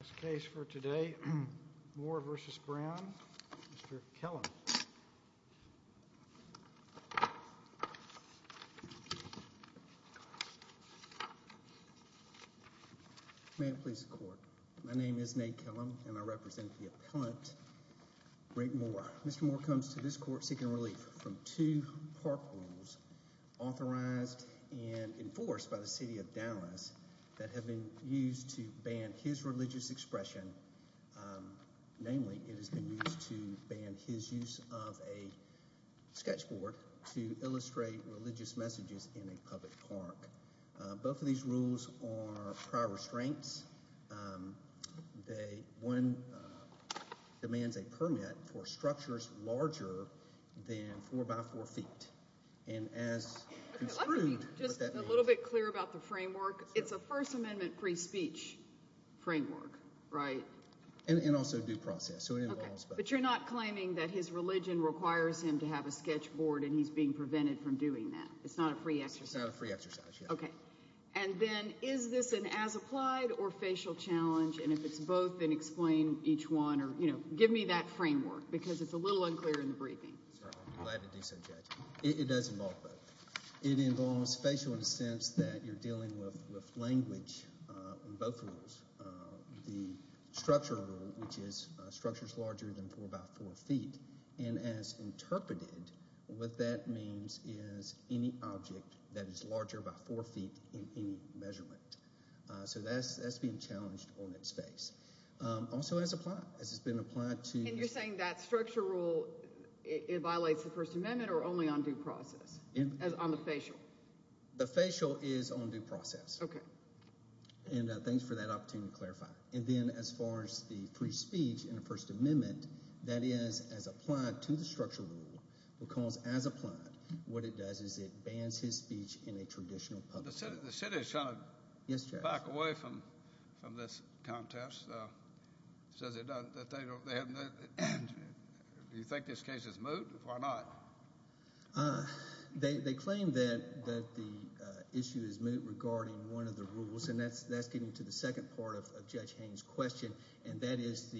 This case for today, Moore v. Brown, Mr. Kellum. May it please the court. My name is Nate Kellum and I represent the appellant, Greg Moore. Mr. Moore comes to this court seeking relief from two park rules authorized and enforced by the City of Dallas that have been used to ban his religious expression. Namely, it has been used to ban his use of a sketch board to illustrate religious messages in a public park. Both of these rules are prior restraints. One demands a permit for structures larger than four by four feet. Let me be just a little bit clear about the framework. It's a First Amendment free speech framework, right? And also due process, so it involves both. But you're not claiming that his religion requires him to have a sketch board and he's being prevented from doing that? It's not a free exercise? It's not a free exercise, yeah. Okay. And then is this an as-applied or facial challenge? And if it's both, then explain each one or, you know, give me that framework because it's a little unclear in the briefing. I'd be glad to do so, Judge. It does involve both. It involves facial in the sense that you're dealing with language on both rules. The structure rule, which is structures larger than four by four feet, and as interpreted, what that means is any object that is larger by four feet in any measurement. So that's being challenged on its face. Also as applied, as it's been applied to— It violates the First Amendment or only on due process, on the facial? The facial is on due process. Okay. And thanks for that opportunity to clarify. And then as far as the free speech in the First Amendment, that is as applied to the structure rule, because as applied, what it does is it bans his speech in a traditional public setting. The Senate is trying to back away from this contest. It says it doesn't—do you think this case is moot? Why not? They claim that the issue is moot regarding one of the rules, and that's getting to the second part of Judge Haynes' question, and that is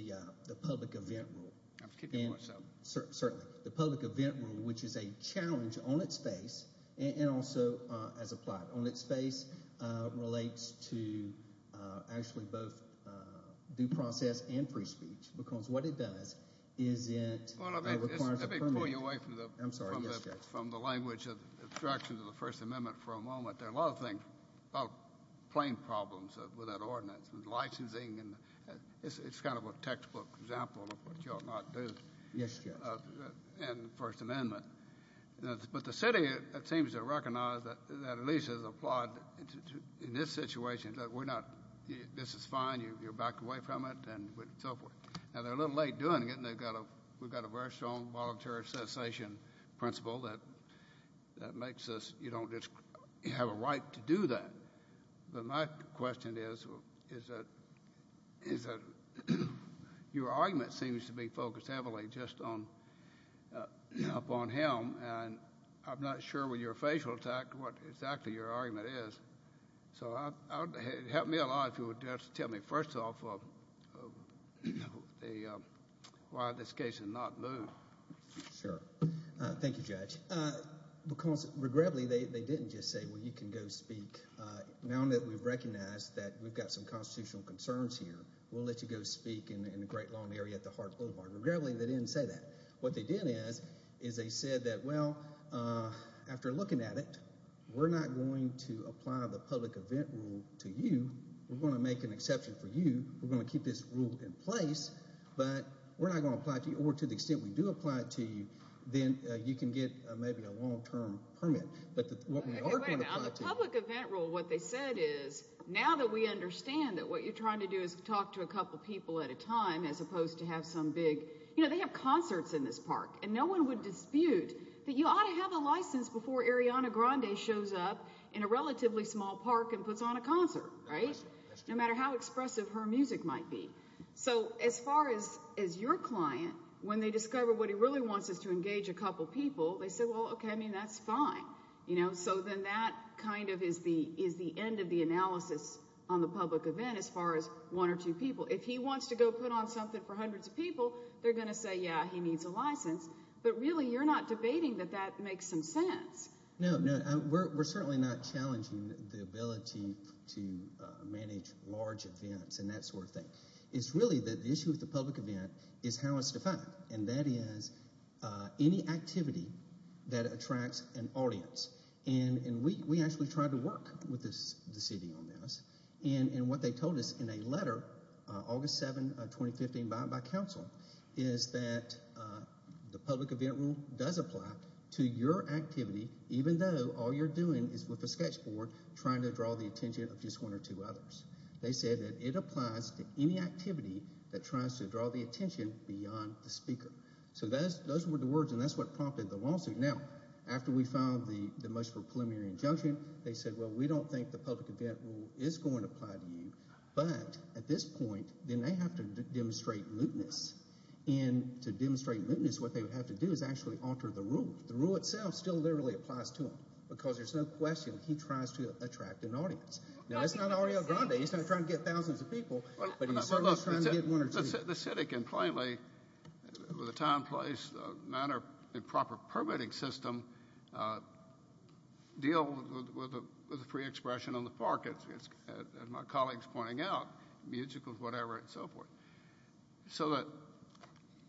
the public event rule. I'm keeping myself. Certainly. The public event rule, which is a challenge on its face and also as applied on its face, relates to actually both due process and free speech, because what it does is it— Let me pull you away from the language of the First Amendment for a moment. There are a lot of things about plain problems with that ordinance, with licensing, and it's kind of a textbook example of what you ought not do in the First Amendment. But the city, it seems to recognize that at least as applied in this situation, that we're not—this is fine. You're backed away from it and so forth. Now, they're a little late doing it, and we've got a very strong voluntary cessation principle that makes us— you don't just have a right to do that. But my question is that your argument seems to be focused heavily just upon him, and I'm not sure with your facial attack what exactly your argument is. So it would help me a lot if you would just tell me, first off, why this case is not moved. Sure. Thank you, Judge. Because, regrettably, they didn't just say, well, you can go speak. Now that we've recognized that we've got some constitutional concerns here, we'll let you go speak in a great long area at the Harts Boulevard. Regrettably, they didn't say that. What they did is they said that, well, after looking at it, we're not going to apply the public event rule to you. We're going to make an exception for you. We're going to keep this rule in place, but we're not going to apply it to you. Then you can get maybe a long-term permit. But what we are going to apply to you. Now, the public event rule, what they said is, now that we understand that what you're trying to do is talk to a couple people at a time, as opposed to have some big, you know, they have concerts in this park, and no one would dispute that you ought to have a license before Ariana Grande shows up in a relatively small park and puts on a concert, right, no matter how expressive her music might be. So as far as your client, when they discover what he really wants is to engage a couple people, they say, well, okay, I mean, that's fine. So then that kind of is the end of the analysis on the public event as far as one or two people. If he wants to go put on something for hundreds of people, they're going to say, yeah, he needs a license. But really you're not debating that that makes some sense. No, no, we're certainly not challenging the ability to manage large events and that sort of thing. It's really the issue with the public event is how it's defined, and that is any activity that attracts an audience. And we actually tried to work with the city on this. And what they told us in a letter, August 7, 2015, by council, is that the public event rule does apply to your activity, even though all you're doing is with a sketch board trying to draw the attention of just one or two others. They said that it applies to any activity that tries to draw the attention beyond the speaker. So those were the words, and that's what prompted the lawsuit. Now, after we filed the most preliminary injunction, they said, well, we don't think the public event rule is going to apply to you. But at this point, then they have to demonstrate lewdness. And to demonstrate lewdness, what they would have to do is actually alter the rule. The rule itself still literally applies to him because there's no question he tries to attract an audience. Now, that's not Aureo Grande. He's not trying to get thousands of people, but he's certainly trying to get one or two. The city can plainly, with a time, place, manner, and proper permitting system, deal with the free expression on the park, as my colleague is pointing out, musicals, whatever, and so forth. So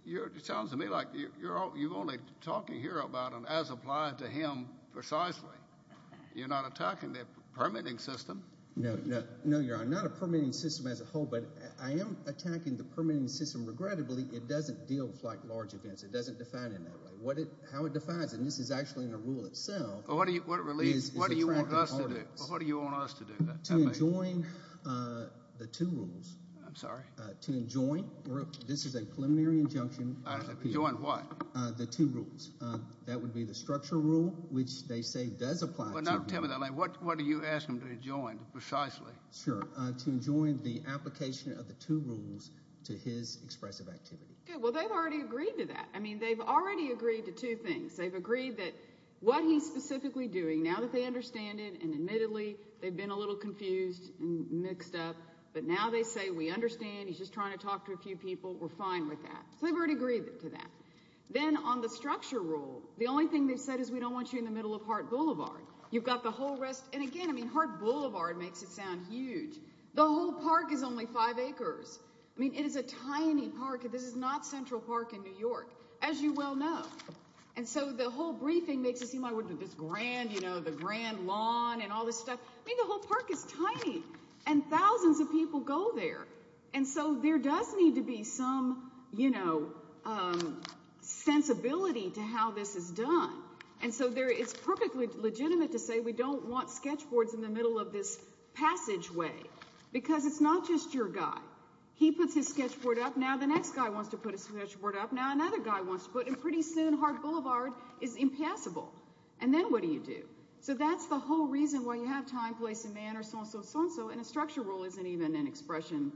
it sounds to me like you're only talking here about an as applied to him precisely. You're not attacking the permitting system. No, you're not. I'm not a permitting system as a whole, but I am attacking the permitting system. Regrettably, it doesn't deal with large events. It doesn't define it that way. How it defines it, and this is actually in the rule itself, is attracting audience. Well, what do you want us to do? To enjoin the two rules. I'm sorry? To enjoin. This is a preliminary injunction. Enjoin what? The two rules. That would be the structural rule, which they say does apply to him. But now tell me that. What do you ask him to enjoin precisely? Sure. To enjoin the application of the two rules to his expressive activity. Well, they've already agreed to that. I mean, they've already agreed to two things. They've agreed that what he's specifically doing, now that they understand it, and admittedly they've been a little confused and mixed up, but now they say we understand. He's just trying to talk to a few people. We're fine with that. So they've already agreed to that. Then on the structure rule, the only thing they've said is we don't want you in the middle of Hart Boulevard. You've got the whole rest. And again, I mean, Hart Boulevard makes it sound huge. The whole park is only five acres. I mean, it is a tiny park. This is not Central Park in New York, as you well know. And so the whole briefing makes it seem like this grand, you know, the grand lawn and all this stuff. I mean, the whole park is tiny, and thousands of people go there. And so there does need to be some, you know, sensibility to how this is done. And so it's perfectly legitimate to say we don't want sketchboards in the middle of this passageway because it's not just your guy. He puts his sketchboard up. Now the next guy wants to put his sketchboard up. Now another guy wants to put it. And pretty soon Hart Boulevard is impassable. And then what do you do? So that's the whole reason why you have time, place, and manner, so-and-so, so-and-so, and a structure rule isn't even an expression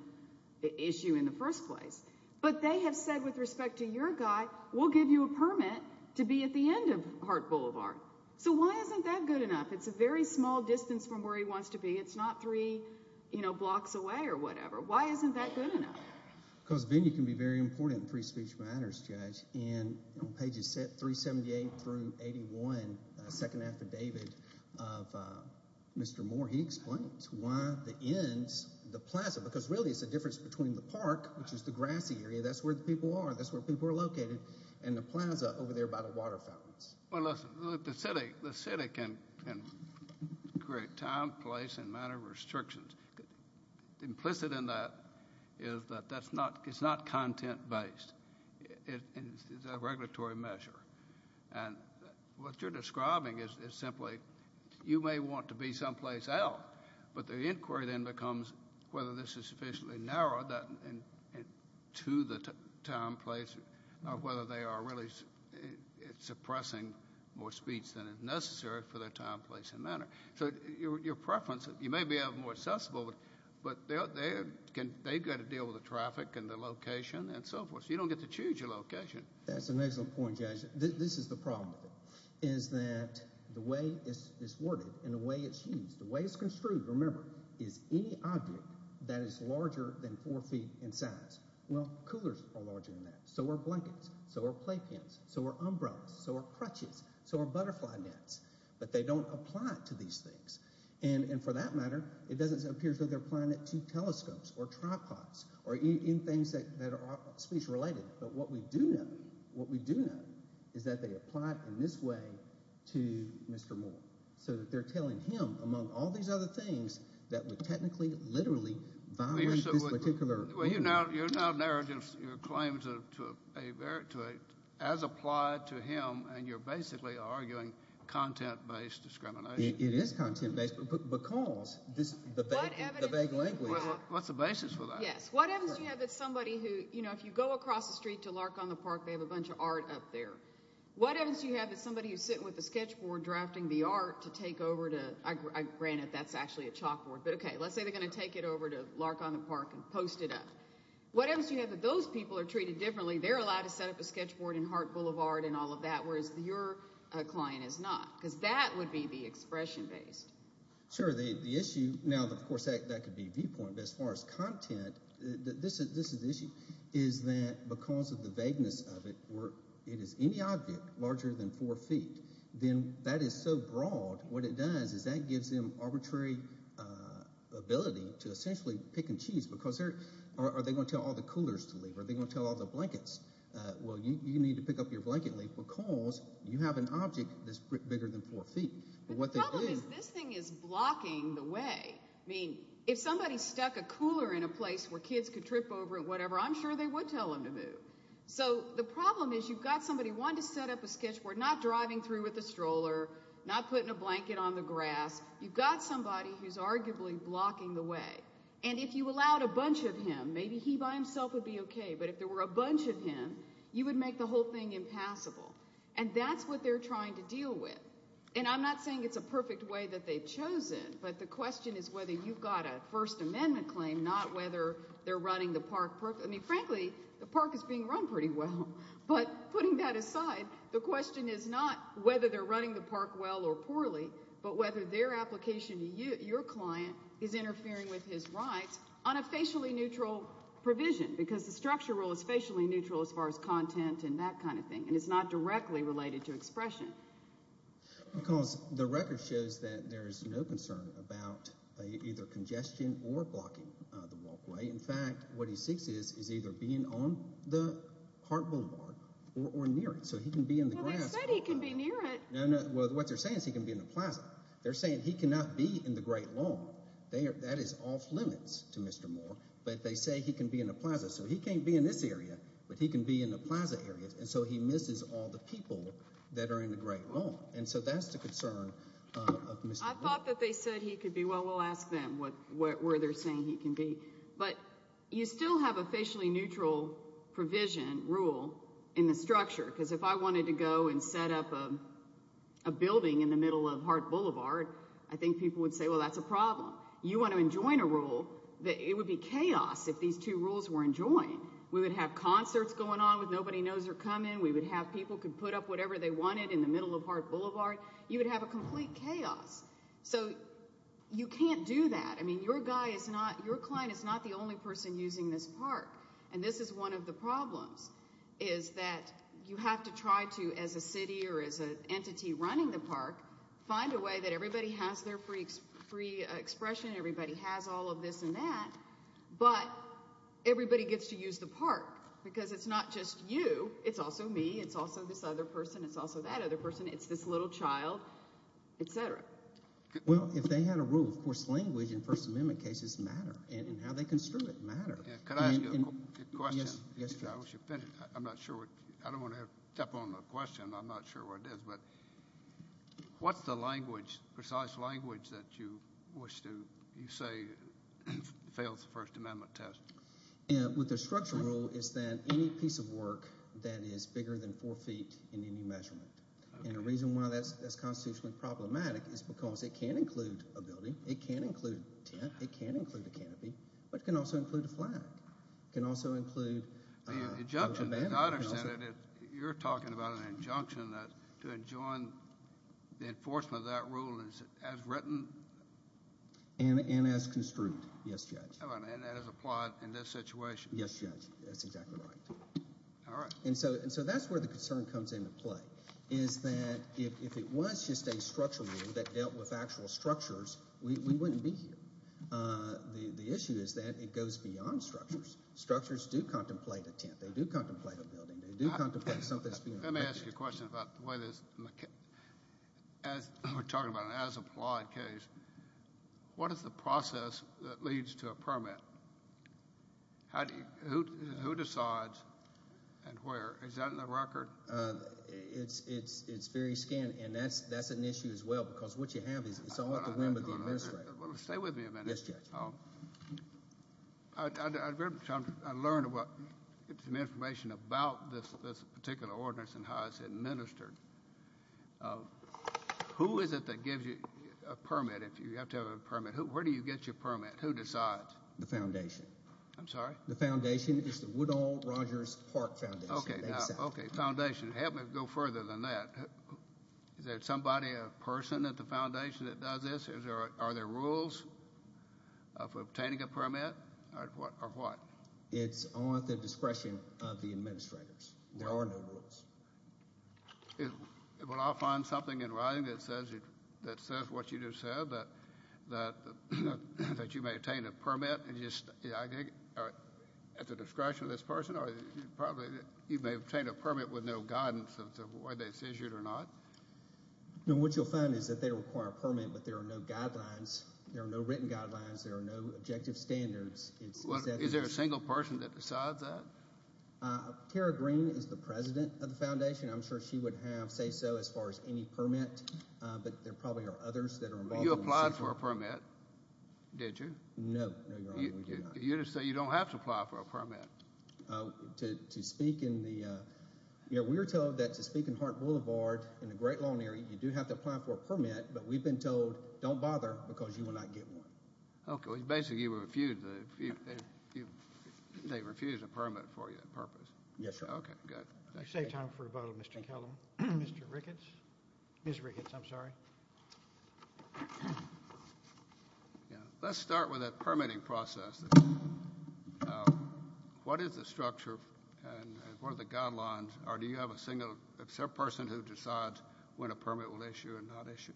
issue in the first place. But they have said with respect to your guy, we'll give you a permit to be at the end of Hart Boulevard. So why isn't that good enough? It's a very small distance from where he wants to be. It's not three, you know, blocks away or whatever. Why isn't that good enough? Because venue can be very important in free speech matters, Judge. And on pages 378 through 81, the second affidavit of Mr. Moore, he explains why the ends, the plaza, because really it's the difference between the park, which is the grassy area, that's where the people are, that's where people are located, and the plaza over there by the water fountains. Well, listen, the city can create time, place, and manner restrictions. Implicit in that is that that's not content-based. It's a regulatory measure. And what you're describing is simply you may want to be someplace else, but the inquiry then becomes whether this is sufficiently narrowed to the time, place, or whether they are really suppressing more speech than is necessary for their time, place, and manner. So your preference, you may be having more accessible, but they've got to deal with the traffic and the location and so forth, so you don't get to choose your location. That's an excellent point, Judge. This is the problem with it, is that the way it's worded and the way it's used, the way it's construed, remember, is any object that is larger than four feet in size. Well, coolers are larger than that. So are blankets. So are playpens. So are umbrellas. So are crutches. So are butterfly nets. But they don't apply it to these things. And for that matter, it doesn't appear that they're applying it to telescopes or tripods or even things that are speech-related. But what we do know is that they apply it in this way to Mr. Moore so that they're telling him, among all these other things, that would technically, literally violate this particular rule. Well, you're now narrating your claims as applied to him, and you're basically arguing content-based discrimination. It is content-based because the vague language. What's the basis for that? Yes. What evidence do you have that somebody who, you know, if you go across the street to Lark on the Park, they have a bunch of art up there. What evidence do you have that somebody who's sitting with a sketch board drafting the art to take over to, granted, that's actually a chalkboard, but okay, let's say they're going to take it over to Lark on the Park and post it up. What evidence do you have that those people are treated differently? They're allowed to set up a sketch board in Hart Boulevard and all of that, whereas your client is not, because that would be the expression-based. Sure. The issue—now, of course, that could be viewpoint, but as far as content, this is the issue—is that because of the vagueness of it, where it is any object larger than four feet, then that is so broad. What it does is that gives them arbitrary ability to essentially pick and choose because they're—or are they going to tell all the coolers to leave? Are they going to tell all the blankets? Well, you need to pick up your blanket and leave because you have an object that's bigger than four feet. The problem is this thing is blocking the way. I mean, if somebody stuck a cooler in a place where kids could trip over it, whatever, I'm sure they would tell them to move. So the problem is you've got somebody wanting to set up a sketch board, not driving through with a stroller, not putting a blanket on the grass. You've got somebody who's arguably blocking the way. And if you allowed a bunch of him, maybe he by himself would be okay, but if there were a bunch of him, you would make the whole thing impassable. And that's what they're trying to deal with. And I'm not saying it's a perfect way that they've chosen, but the question is whether you've got a First Amendment claim, not whether they're running the park. I mean, frankly, the park is being run pretty well. But putting that aside, the question is not whether they're running the park well or poorly, but whether their application to your client is interfering with his rights on a facially neutral provision because the structure rule is facially neutral as far as content and that kind of thing, and it's not directly related to expression. Because the record shows that there is no concern about either congestion or blocking the walkway. In fact, what he seeks is either being on the park boulevard or near it, so he can be in the grass. Well, they said he can be near it. No, no, what they're saying is he can be in the plaza. They're saying he cannot be in the Great Lawn. That is off limits to Mr. Moore, but they say he can be in the plaza. So he can't be in this area, but he can be in the plaza area, and so he misses all the people that are in the Great Lawn. And so that's the concern of Mr. Moore. I thought that they said he could be. Well, we'll ask them where they're saying he can be. But you still have a facially neutral provision rule in the structure, because if I wanted to go and set up a building in the middle of Hart Boulevard, I think people would say, well, that's a problem. You want to enjoin a rule, it would be chaos if these two rules were enjoined. We would have concerts going on with nobody knows they're coming. We would have people could put up whatever they wanted in the middle of Hart Boulevard. You would have a complete chaos. So you can't do that. I mean, your client is not the only person using this park, and this is one of the problems, is that you have to try to, as a city or as an entity running the park, find a way that everybody has their free expression, everybody has all of this and that, but everybody gets to use the park, because it's not just you. It's also me. It's also this other person. It's also that other person. It's this little child, et cetera. Well, if they had a rule, of course, language in First Amendment cases matter, and how they construe it matters. Could I ask you a question? Yes, Charles. I'm not sure. I don't want to step on the question. I'm not sure what it is, but what's the language, precise language, that you wish to say fails the First Amendment test? With the structural rule is that any piece of work that is bigger than four feet in any measurement, and the reason why that's constitutionally problematic is because it can include a building. It can include a tent. It can include a canopy, but it can also include a flag. It can also include a banner. The injunction, as I understand it, you're talking about an injunction to enjoin the enforcement of that rule as written? And as construed, yes, Judge. And as applied in this situation. Yes, Judge. That's exactly right. All right. And so that's where the concern comes into play, is that if it was just a structural rule that dealt with actual structures, we wouldn't be here. The issue is that it goes beyond structures. Structures do contemplate a tent. They do contemplate a building. They do contemplate something that's beyond. Let me ask you a question about the way this, as we're talking about an as-applied case, what is the process that leads to a permit? Who decides and where? Is that in the record? It's very scant, and that's an issue as well, because what you have is it's all at the whim of the administrator. Stay with me a minute. Yes, Judge. I learned some information about this particular ordinance and how it's administered. Who is it that gives you a permit if you have to have a permit? Where do you get your permit? Who decides? The foundation. I'm sorry? The foundation is the Woodall Rogers Park Foundation. Okay, foundation. Help me go further than that. Is there somebody, a person at the foundation that does this? Are there rules for obtaining a permit or what? It's on the discretion of the administrators. There are no rules. Well, I'll find something in writing that says what you just said, that you may obtain a permit at the discretion of this person, or you may obtain a permit with no guidance as to whether it's issued or not. No, what you'll find is that they require a permit, but there are no guidelines. There are no written guidelines. There are no objective standards. Is there a single person that decides that? Tara Green is the president of the foundation. I'm sure she would have say so as far as any permit, but there probably are others that are involved. You applied for a permit, did you? No, no, Your Honor, we did not. You just say you don't have to apply for a permit. To speak in the, you know, we were told that to speak in Hart Boulevard, in a great long area, you do have to apply for a permit, but we've been told don't bother because you will not get one. Okay, well, basically you refused the, they refused a permit for you on purpose. Yes, sir. Okay, good. You saved time for a vote of Mr. Kellum. Mr. Ricketts, Ms. Ricketts, I'm sorry. Let's start with a permitting process. What is the structure and what are the guidelines, or do you have a single person who decides when a permit will issue and not issue?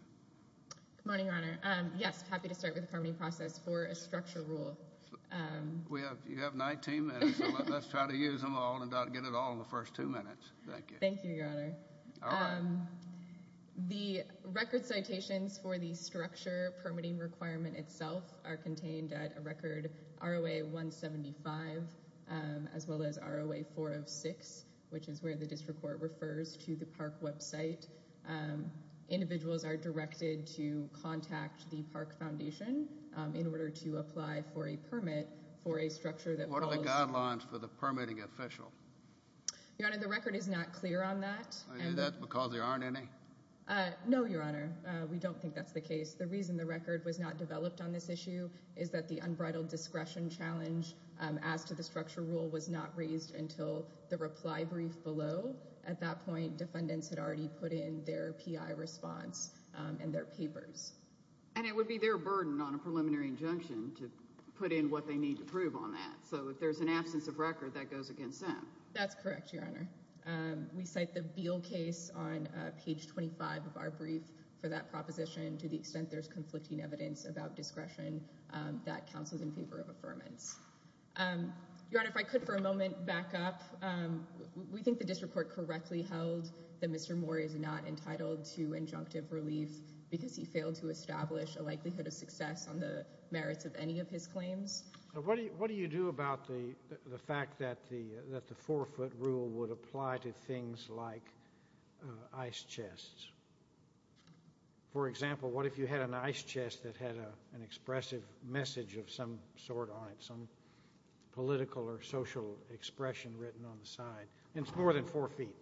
Good morning, Your Honor. Yes, happy to start with the permitting process for a structure rule. You have 19 minutes, so let's try to use them all and get it all in the first two minutes. Thank you. Thank you, Your Honor. All right. The record citations for the structure permitting requirement itself are contained at a record ROA 175, as well as ROA 406, which is where the district court refers to the park website. Individuals are directed to contact the Park Foundation in order to apply for a permit for a structure that follows. What are the guidelines for the permitting official? Your Honor, the record is not clear on that. Is that because there aren't any? No, Your Honor. We don't think that's the case. The reason the record was not developed on this issue is that the unbridled discretion challenge as to the structure rule was not raised until the reply brief below. At that point, defendants had already put in their PI response and their papers. And it would be their burden on a preliminary injunction to put in what they need to prove on that. So if there's an absence of record, that goes against them. That's correct, Your Honor. We cite the Beal case on page 25 of our brief for that proposition to the extent there's conflicting evidence about discretion that counts as in favor of affirmance. Your Honor, if I could for a moment back up. We think the district court correctly held that Mr. Moore is not entitled to injunctive relief because he failed to establish a likelihood of success on the merits of any of his claims. What do you do about the fact that the forfeit rule would apply to things like ice chests? For example, what if you had an ice chest that had an expressive message of some sort on it, some political or social expression written on the side, and it's more than four feet?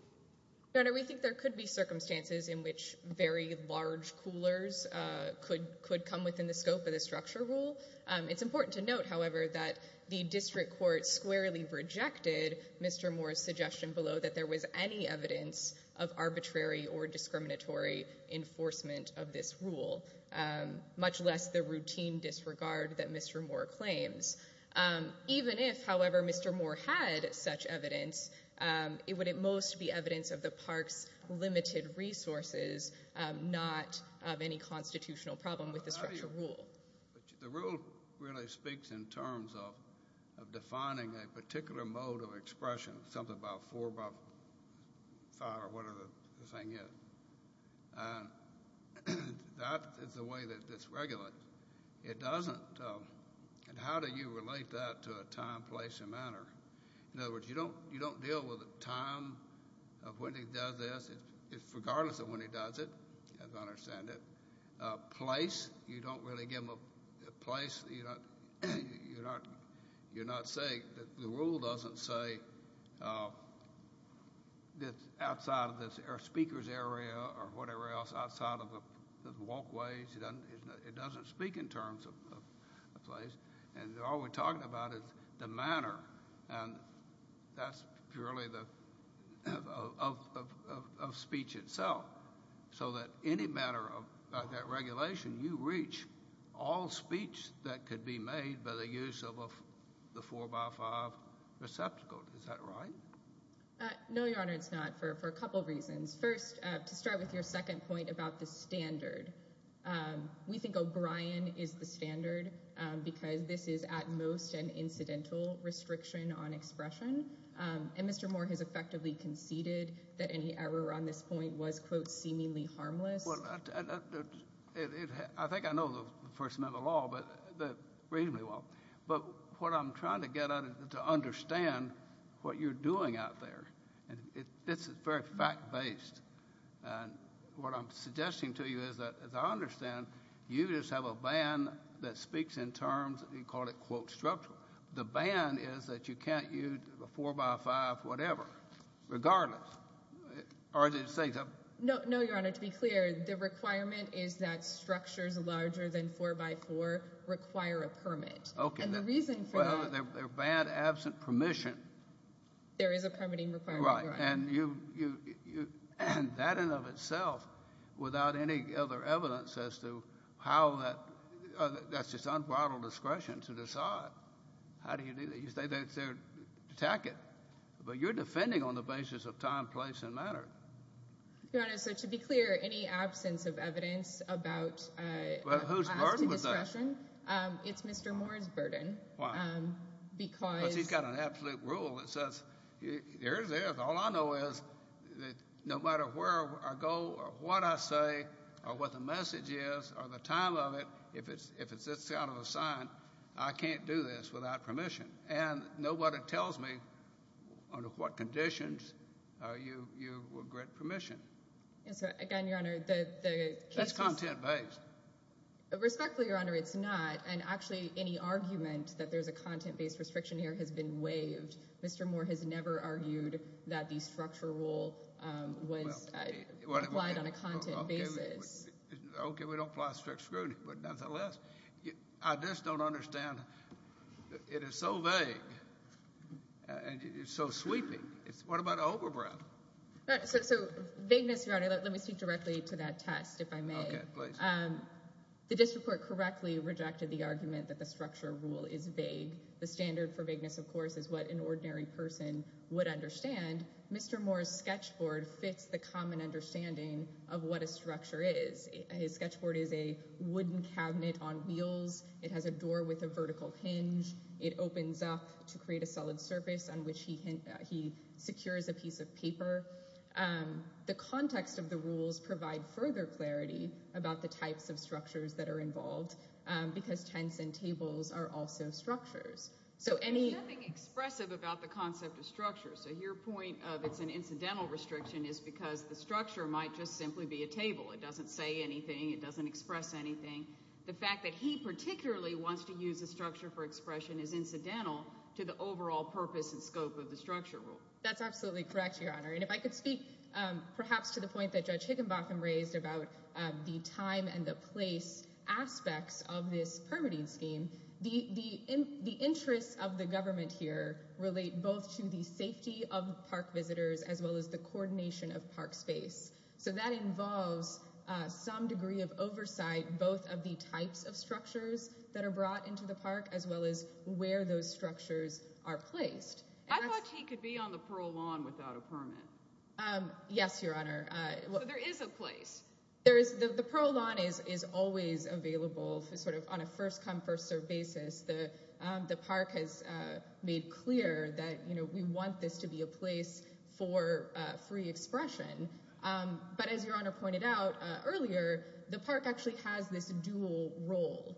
Your Honor, we think there could be circumstances in which very large coolers could come within the scope of the structure rule. It's important to note, however, that the district court squarely rejected Mr. Moore's suggestion below that there was any evidence of arbitrary or discriminatory enforcement of this rule, much less the routine disregard that Mr. Moore claims. Even if, however, Mr. Moore had such evidence, it would at most be evidence of the park's limited resources, not of any constitutional problem with the structure rule. The rule really speaks in terms of defining a particular mode of expression, something about four by five or whatever the thing is, and that is the way that it's regulated. It doesn't. And how do you relate that to a time, place, and manner? In other words, you don't deal with the time of when he does this, regardless of when he does it, as I understand it. Place, you don't really give him a place. You're not saying that the rule doesn't say it's outside of the speaker's area or whatever else, outside of the walkways. It doesn't speak in terms of a place, and all we're talking about is the manner, and that's purely of speech itself, so that any matter of that regulation, you reach all speech that could be made by the use of the four by five receptacle. Is that right? No, Your Honor, it's not, for a couple of reasons. First, to start with your second point about the standard. We think O'Brien is the standard because this is at most an incidental restriction on expression, and Mr. Moore has effectively conceded that any error on this point was, quote, seemingly harmless. Well, I think I know the First Amendment law reasonably well, but what I'm trying to get at is to understand what you're doing out there. It's very fact-based, and what I'm suggesting to you is that, as I understand, you just have a ban that speaks in terms, you call it, quote, structural. The ban is that you can't use a four by five whatever, regardless. No, Your Honor, to be clear, the requirement is that structures larger than four by four require a permit. Okay. And the reason for that. Well, they're banned absent permission. There is a permitting requirement. Right, and that in and of itself, without any other evidence as to how that's just unbridled discretion to decide. How do you do that? You say they attack it, but you're defending on the basis of time, place, and manner. Your Honor, so to be clear, any absence of evidence about asking discretion, it's Mr. Moore's burden because. Because he's got an absolute rule that says, here's this. All I know is that no matter where I go or what I say or what the message is or the time of it, if it's this kind of a sign, I can't do this without permission. And nobody tells me under what conditions you would grant permission. Yes, sir. Again, Your Honor, the case is. That's content-based. Respectfully, Your Honor, it's not. And actually, any argument that there's a content-based restriction here has been waived. Mr. Moore has never argued that the structure rule was applied on a content basis. Okay, we don't apply strict scrutiny. But nonetheless, I just don't understand. It is so vague. And it's so sweeping. What about overbreadth? So, vagueness, Your Honor, let me speak directly to that test, if I may. Okay, please. The district court correctly rejected the argument that the structure rule is vague. The standard for vagueness, of course, is what an ordinary person would understand. Mr. Moore's sketchboard fits the common understanding of what a structure is. His sketchboard is a wooden cabinet on wheels. It has a door with a vertical hinge. It opens up to create a solid surface on which he secures a piece of paper. The context of the rules provide further clarity about the types of structures that are involved because tents and tables are also structures. There's nothing expressive about the concept of structure. So your point of it's an incidental restriction is because the structure might just simply be a table. It doesn't say anything. It doesn't express anything. The fact that he particularly wants to use a structure for expression is incidental to the overall purpose and scope of the structure rule. That's absolutely correct, Your Honor. And if I could speak perhaps to the point that Judge Higginbotham raised about the time and the place aspects of this permitting scheme, the interests of the government here relate both to the safety of park visitors as well as the coordination of park space. So that involves some degree of oversight, both of the types of structures that are brought into the park as well as where those structures are placed. I thought he could be on the Pearl Lawn without a permit. Yes, Your Honor. There is a place. The Pearl Lawn is always available on a first come first serve basis. The park has made clear that we want this to be a place for free expression. But as Your Honor pointed out earlier, the park actually has this dual role.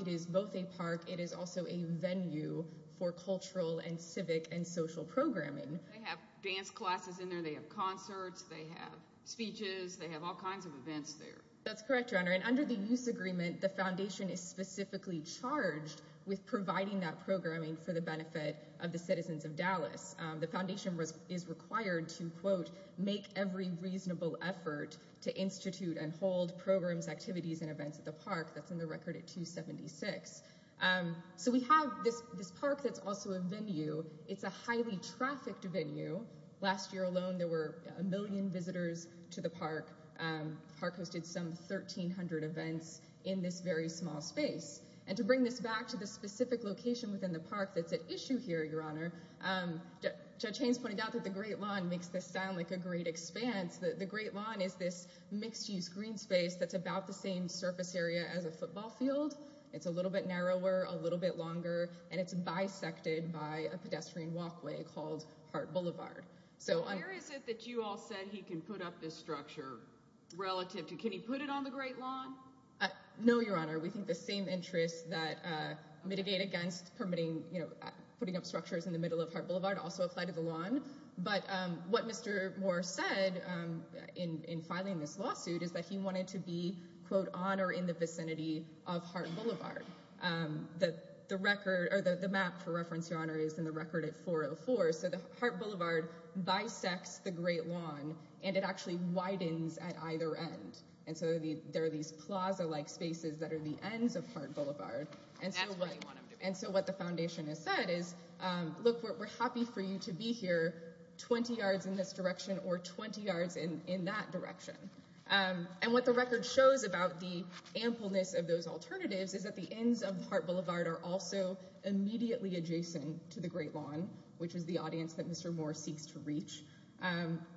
It is both a park. It is also a venue for cultural and civic and social programming. They have dance classes in there. They have concerts. They have speeches. They have all kinds of events there. That's correct, Your Honor. And under the use agreement, the foundation is specifically charged with providing that programming for the benefit of the citizens of Dallas. The foundation is required to, quote, make every reasonable effort to institute and hold programs, activities, and events at the park. That's in the record at 276. So we have this park that's also a venue. It's a highly trafficked venue. Last year alone, there were a million visitors to the park. The park hosted some 1,300 events in this very small space. And to bring this back to the specific location within the park that's at issue here, Your Honor, Judge Haynes pointed out that the Great Lawn makes this sound like a great expanse. The Great Lawn is this mixed-use green space that's about the same surface area as a football field. It's a little bit narrower, a little bit longer, and it's bisected by a pedestrian walkway called Hart Boulevard. So where is it that you all said he can put up this structure relative to? Can he put it on the Great Lawn? No, Your Honor. We think the same interests that mitigate against permitting, you know, putting up structures in the middle of Hart Boulevard also apply to the lawn. But what Mr. Moore said in filing this lawsuit is that he wanted to be, quote, on or in the vicinity of Hart Boulevard. The record or the map, for reference, Your Honor, is in the record at 404. So Hart Boulevard bisects the Great Lawn, and it actually widens at either end. And so there are these plaza-like spaces that are the ends of Hart Boulevard. And so what the foundation has said is, look, we're happy for you to be here 20 yards in this direction or 20 yards in that direction. And what the record shows about the ampleness of those alternatives is that the ends of Hart Boulevard are also immediately adjacent to the Great Lawn, which is the audience that Mr. Moore seeks to reach.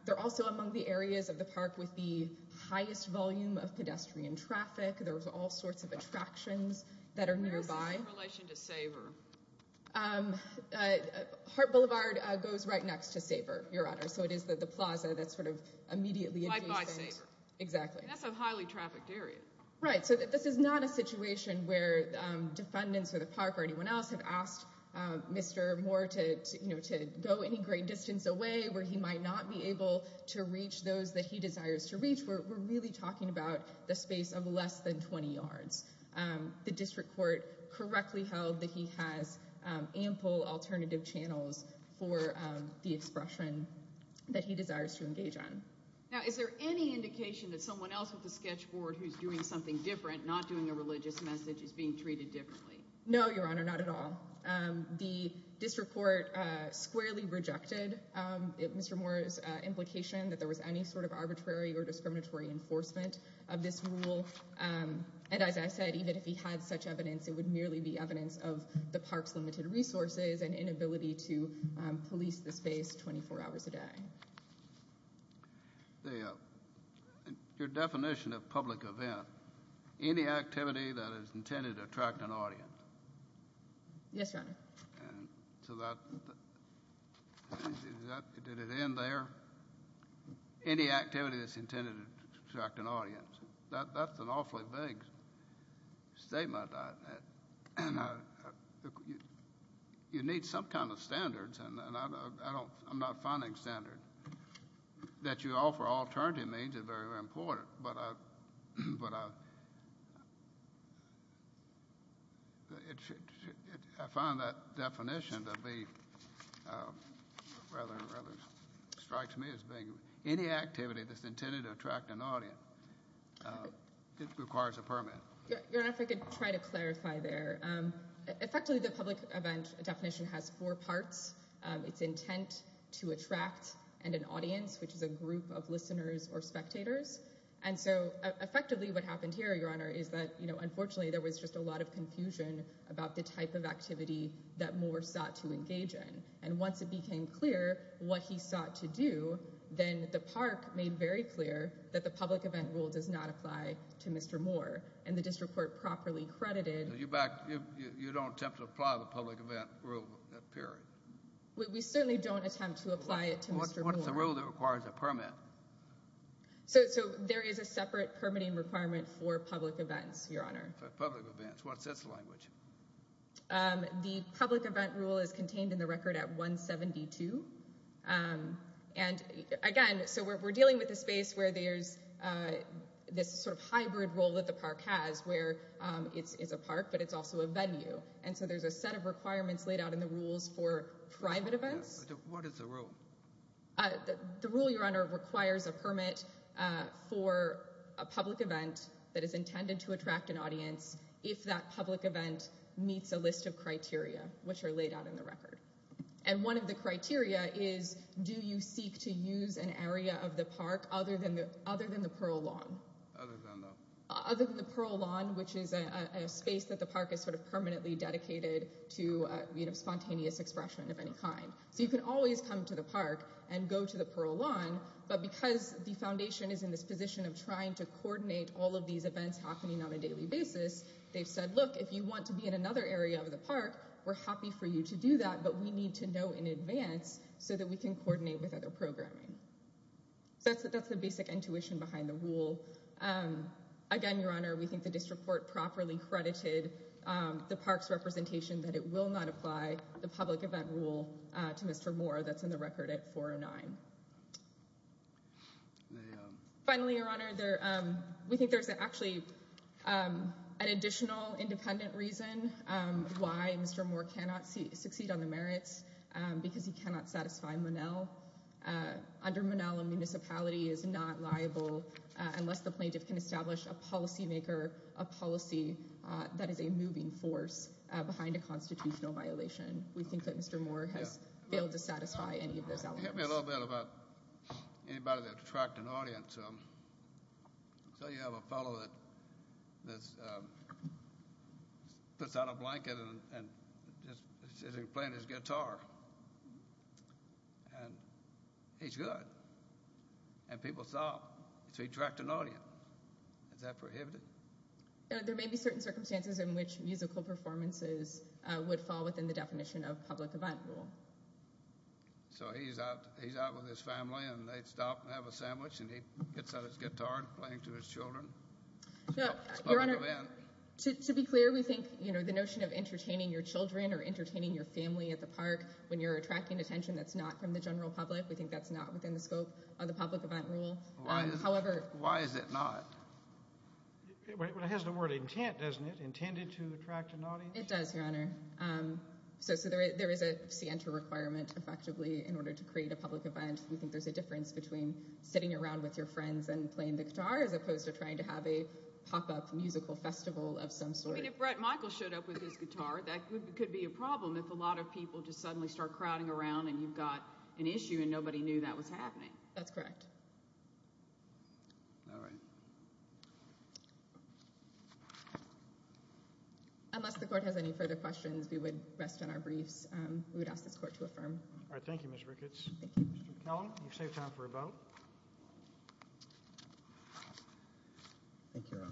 They're also among the areas of the park with the highest volume of pedestrian traffic. There's all sorts of attractions that are nearby. Where is this in relation to Saver? Hart Boulevard goes right next to Saver, Your Honor. So it is the plaza that's sort of immediately adjacent. Right by Saver. Exactly. That's a highly trafficked area. Right. So this is not a situation where defendants or the park or anyone else have asked Mr. Moore to go any great distance away where he might not be able to reach those that he desires to reach. We're really talking about the space of less than 20 yards. The district court correctly held that he has ample alternative channels for the expression that he desires to engage on. Now, is there any indication that someone else with the sketch board who's doing something different, not doing a religious message, is being treated differently? No, Your Honor, not at all. The district court squarely rejected Mr. Moore's implication that there was any sort of arbitrary or discriminatory enforcement of this rule. And as I said, even if he had such evidence, it would merely be evidence of the park's limited resources and inability to police the space 24 hours a day. Your definition of public event, any activity that is intended to attract an audience. Yes, Your Honor. Did it end there? Any activity that's intended to attract an audience. That's an awfully vague statement. You need some kind of standards, and I'm not finding standards. That you offer alternative means is very, very important. But I found that definition to be rather, strikes me as vague. Any activity that's intended to attract an audience requires a permit. Your Honor, if I could try to clarify there. Effectively, the public event definition has four parts. It's intent to attract and an audience, which is a group of listeners or spectators. And so effectively what happened here, Your Honor, is that unfortunately there was just a lot of confusion about the type of activity that Moore sought to engage in. And once it became clear what he sought to do, then the park made very clear that the public event rule does not apply to Mr. Moore. And the district court properly credited. You don't attempt to apply the public event rule, period. We certainly don't attempt to apply it to Mr. Moore. What's the rule that requires a permit? So there is a separate permitting requirement for public events, Your Honor. For public events. What's its language? The public event rule is contained in the record at 172. And again, so we're dealing with a space where there's this sort of hybrid role that the park has where it's a park, but it's also a venue. And so there's a set of requirements laid out in the rules for private events. What is the rule? The rule, Your Honor, requires a permit for a public event that is intended to attract an audience if that public event meets a list of criteria, which are laid out in the record. And one of the criteria is, do you seek to use an area of the park other than the Pearl Lawn? Other than the Pearl Lawn, which is a space that the park is sort of permanently dedicated to spontaneous expression of any kind. So you can always come to the park and go to the Pearl Lawn. But because the foundation is in this position of trying to coordinate all of these events happening on a daily basis, they've said, look, if you want to be in another area of the park, we're happy for you to do that. But we need to know in advance so that we can coordinate with other programming. So that's the basic intuition behind the rule. Again, Your Honor, we think the district court properly credited the park's representation that it will not apply the public event rule to Mr. Moore. That's in the record at 409. Finally, Your Honor, we think there's actually an additional independent reason why Mr. Moore cannot succeed on the merits because he cannot satisfy Monell. Under Monell, a municipality is not liable unless the plaintiff can establish a policymaker, a policy that is a moving force behind a constitutional violation. We think that Mr. Moore has failed to satisfy any of those elements. Can you tell me a little bit about anybody that tracked an audience? So you have a fellow that puts on a blanket and is playing his guitar, and he's good. And people saw him, so he tracked an audience. Is that prohibited? There may be certain circumstances in which musical performances would fall within the definition of public event rule. So he's out with his family, and they stop and have a sandwich, and he puts on his guitar and is playing to his children. Your Honor, to be clear, we think the notion of entertaining your children or entertaining your family at the park when you're attracting attention that's not from the general public, we think that's not within the scope of the public event rule. Why is it not? It has the word intent, doesn't it? Intended to attract an audience? It does, Your Honor. So there is a scienter requirement, effectively, in order to create a public event. We think there's a difference between sitting around with your friends and playing the guitar as opposed to trying to have a pop-up musical festival of some sort. I mean, if Brett Michael showed up with his guitar, that could be a problem if a lot of people just suddenly start crowding around, and you've got an issue, and nobody knew that was happening. That's correct. All right. Unless the court has any further questions, we would rest on our briefs. We would ask this court to affirm. All right. Thank you, Ms. Ricketts. Mr. McKellen, you've saved time for a vote. Thank you, Your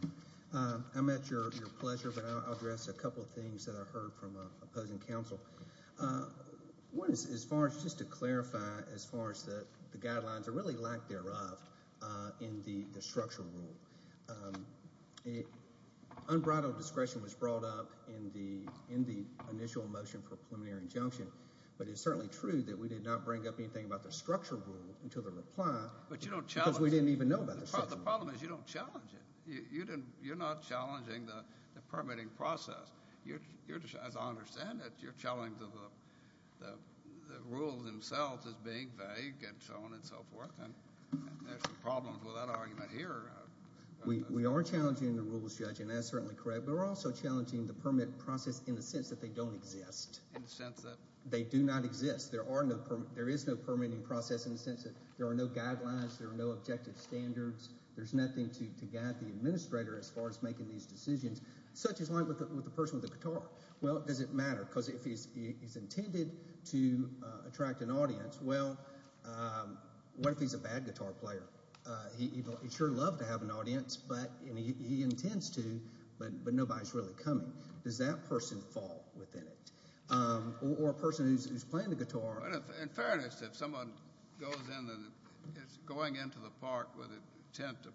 Honor. I'm at your pleasure, but I'll address a couple of things that I heard from opposing counsel. One is as far as just to clarify as far as the guidelines are really lack thereof in the structural rule. Unbridled discretion was brought up in the initial motion for preliminary injunction, but it's certainly true that we did not bring up anything about the structural rule until the reply. But you don't challenge it. Because we didn't even know about the structural rule. The problem is you don't challenge it. You're not challenging the permitting process. As I understand it, you're challenging the rules themselves as being vague and so on and so forth, and there's some problems with that argument here. We are challenging the rules, Judge, and that's certainly correct. But we're also challenging the permit process in the sense that they don't exist. In the sense that? They do not exist. There is no permitting process in the sense that there are no guidelines. There are no objective standards. There's nothing to guide the administrator as far as making these decisions. Such is life with a person with a guitar. Well, does it matter? Because if he's intended to attract an audience, well, what if he's a bad guitar player? He'd sure love to have an audience, and he intends to, but nobody's really coming. Does that person fall within it? Or a person who's playing the guitar. In fairness, if someone is going into the park with an intent to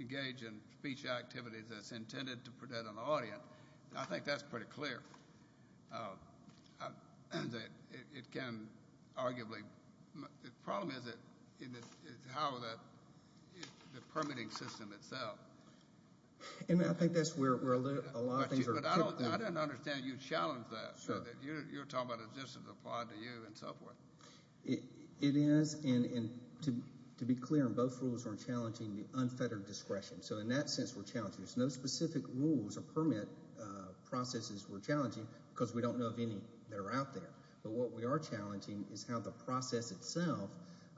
engage in speech activities that's intended to prevent an audience, I think that's pretty clear. The problem is how the permitting system itself. I think that's where a lot of things are. But I don't understand you challenge that. You're talking about existence applied to you and so forth. It is, and to be clear, both rules are challenging the unfettered discretion. So in that sense we're challenging. There's no specific rules or permit processes we're challenging because we don't know of any that are out there. But what we are challenging is how the process itself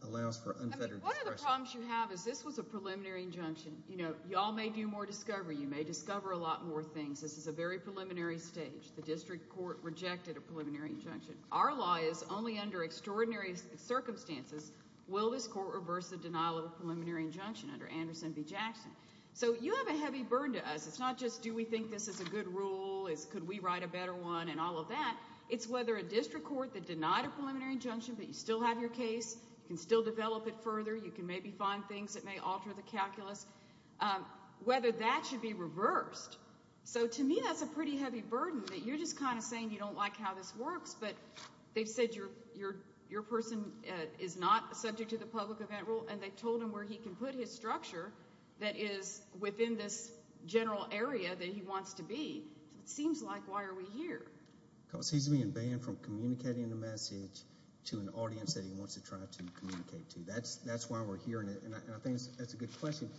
allows for unfettered discretion. One of the problems you have is this was a preliminary injunction. Y'all may do more discovery. You may discover a lot more things. This is a very preliminary stage. The district court rejected a preliminary injunction. Our law is only under extraordinary circumstances will this court reverse the denial of a preliminary injunction under Anderson v. Jackson. So you have a heavy burden to us. It's not just do we think this is a good rule, could we write a better one and all of that. It's whether a district court that denied a preliminary injunction but you still have your case, you can still develop it further, you can maybe find things that may alter the calculus, whether that should be reversed. So to me that's a pretty heavy burden that you're just kind of saying you don't like how this works but they've said your person is not subject to the public event rule and they've told him where he can put his structure that is within this general area that he wants to be. It seems like why are we here? Because he's being banned from communicating the message to an audience that he wants to try to communicate to. That's why we're here and I think that's a good question.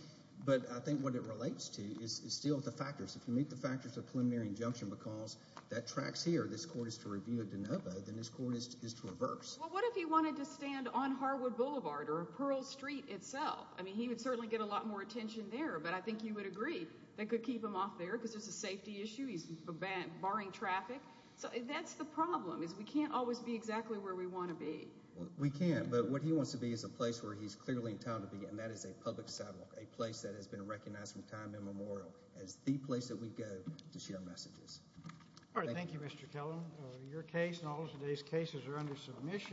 But I think what it relates to is still the factors. If you meet the factors of preliminary injunction because that tracks here, this court is to review a de novo, then this court is to reverse. Well what if he wanted to stand on Harwood Boulevard or Pearl Street itself? I mean he would certainly get a lot more attention there but I think you would agree they could keep him off there because there's a safety issue, he's barring traffic. So that's the problem is we can't always be exactly where we want to be. We can't but what he wants to be is a place where he's clearly entitled to be and that is a public sidewalk, a place that has been recognized from time immemorial as the place that we go to share messages. Alright, thank you Mr. Kellum. Your case and all of today's cases are under submission.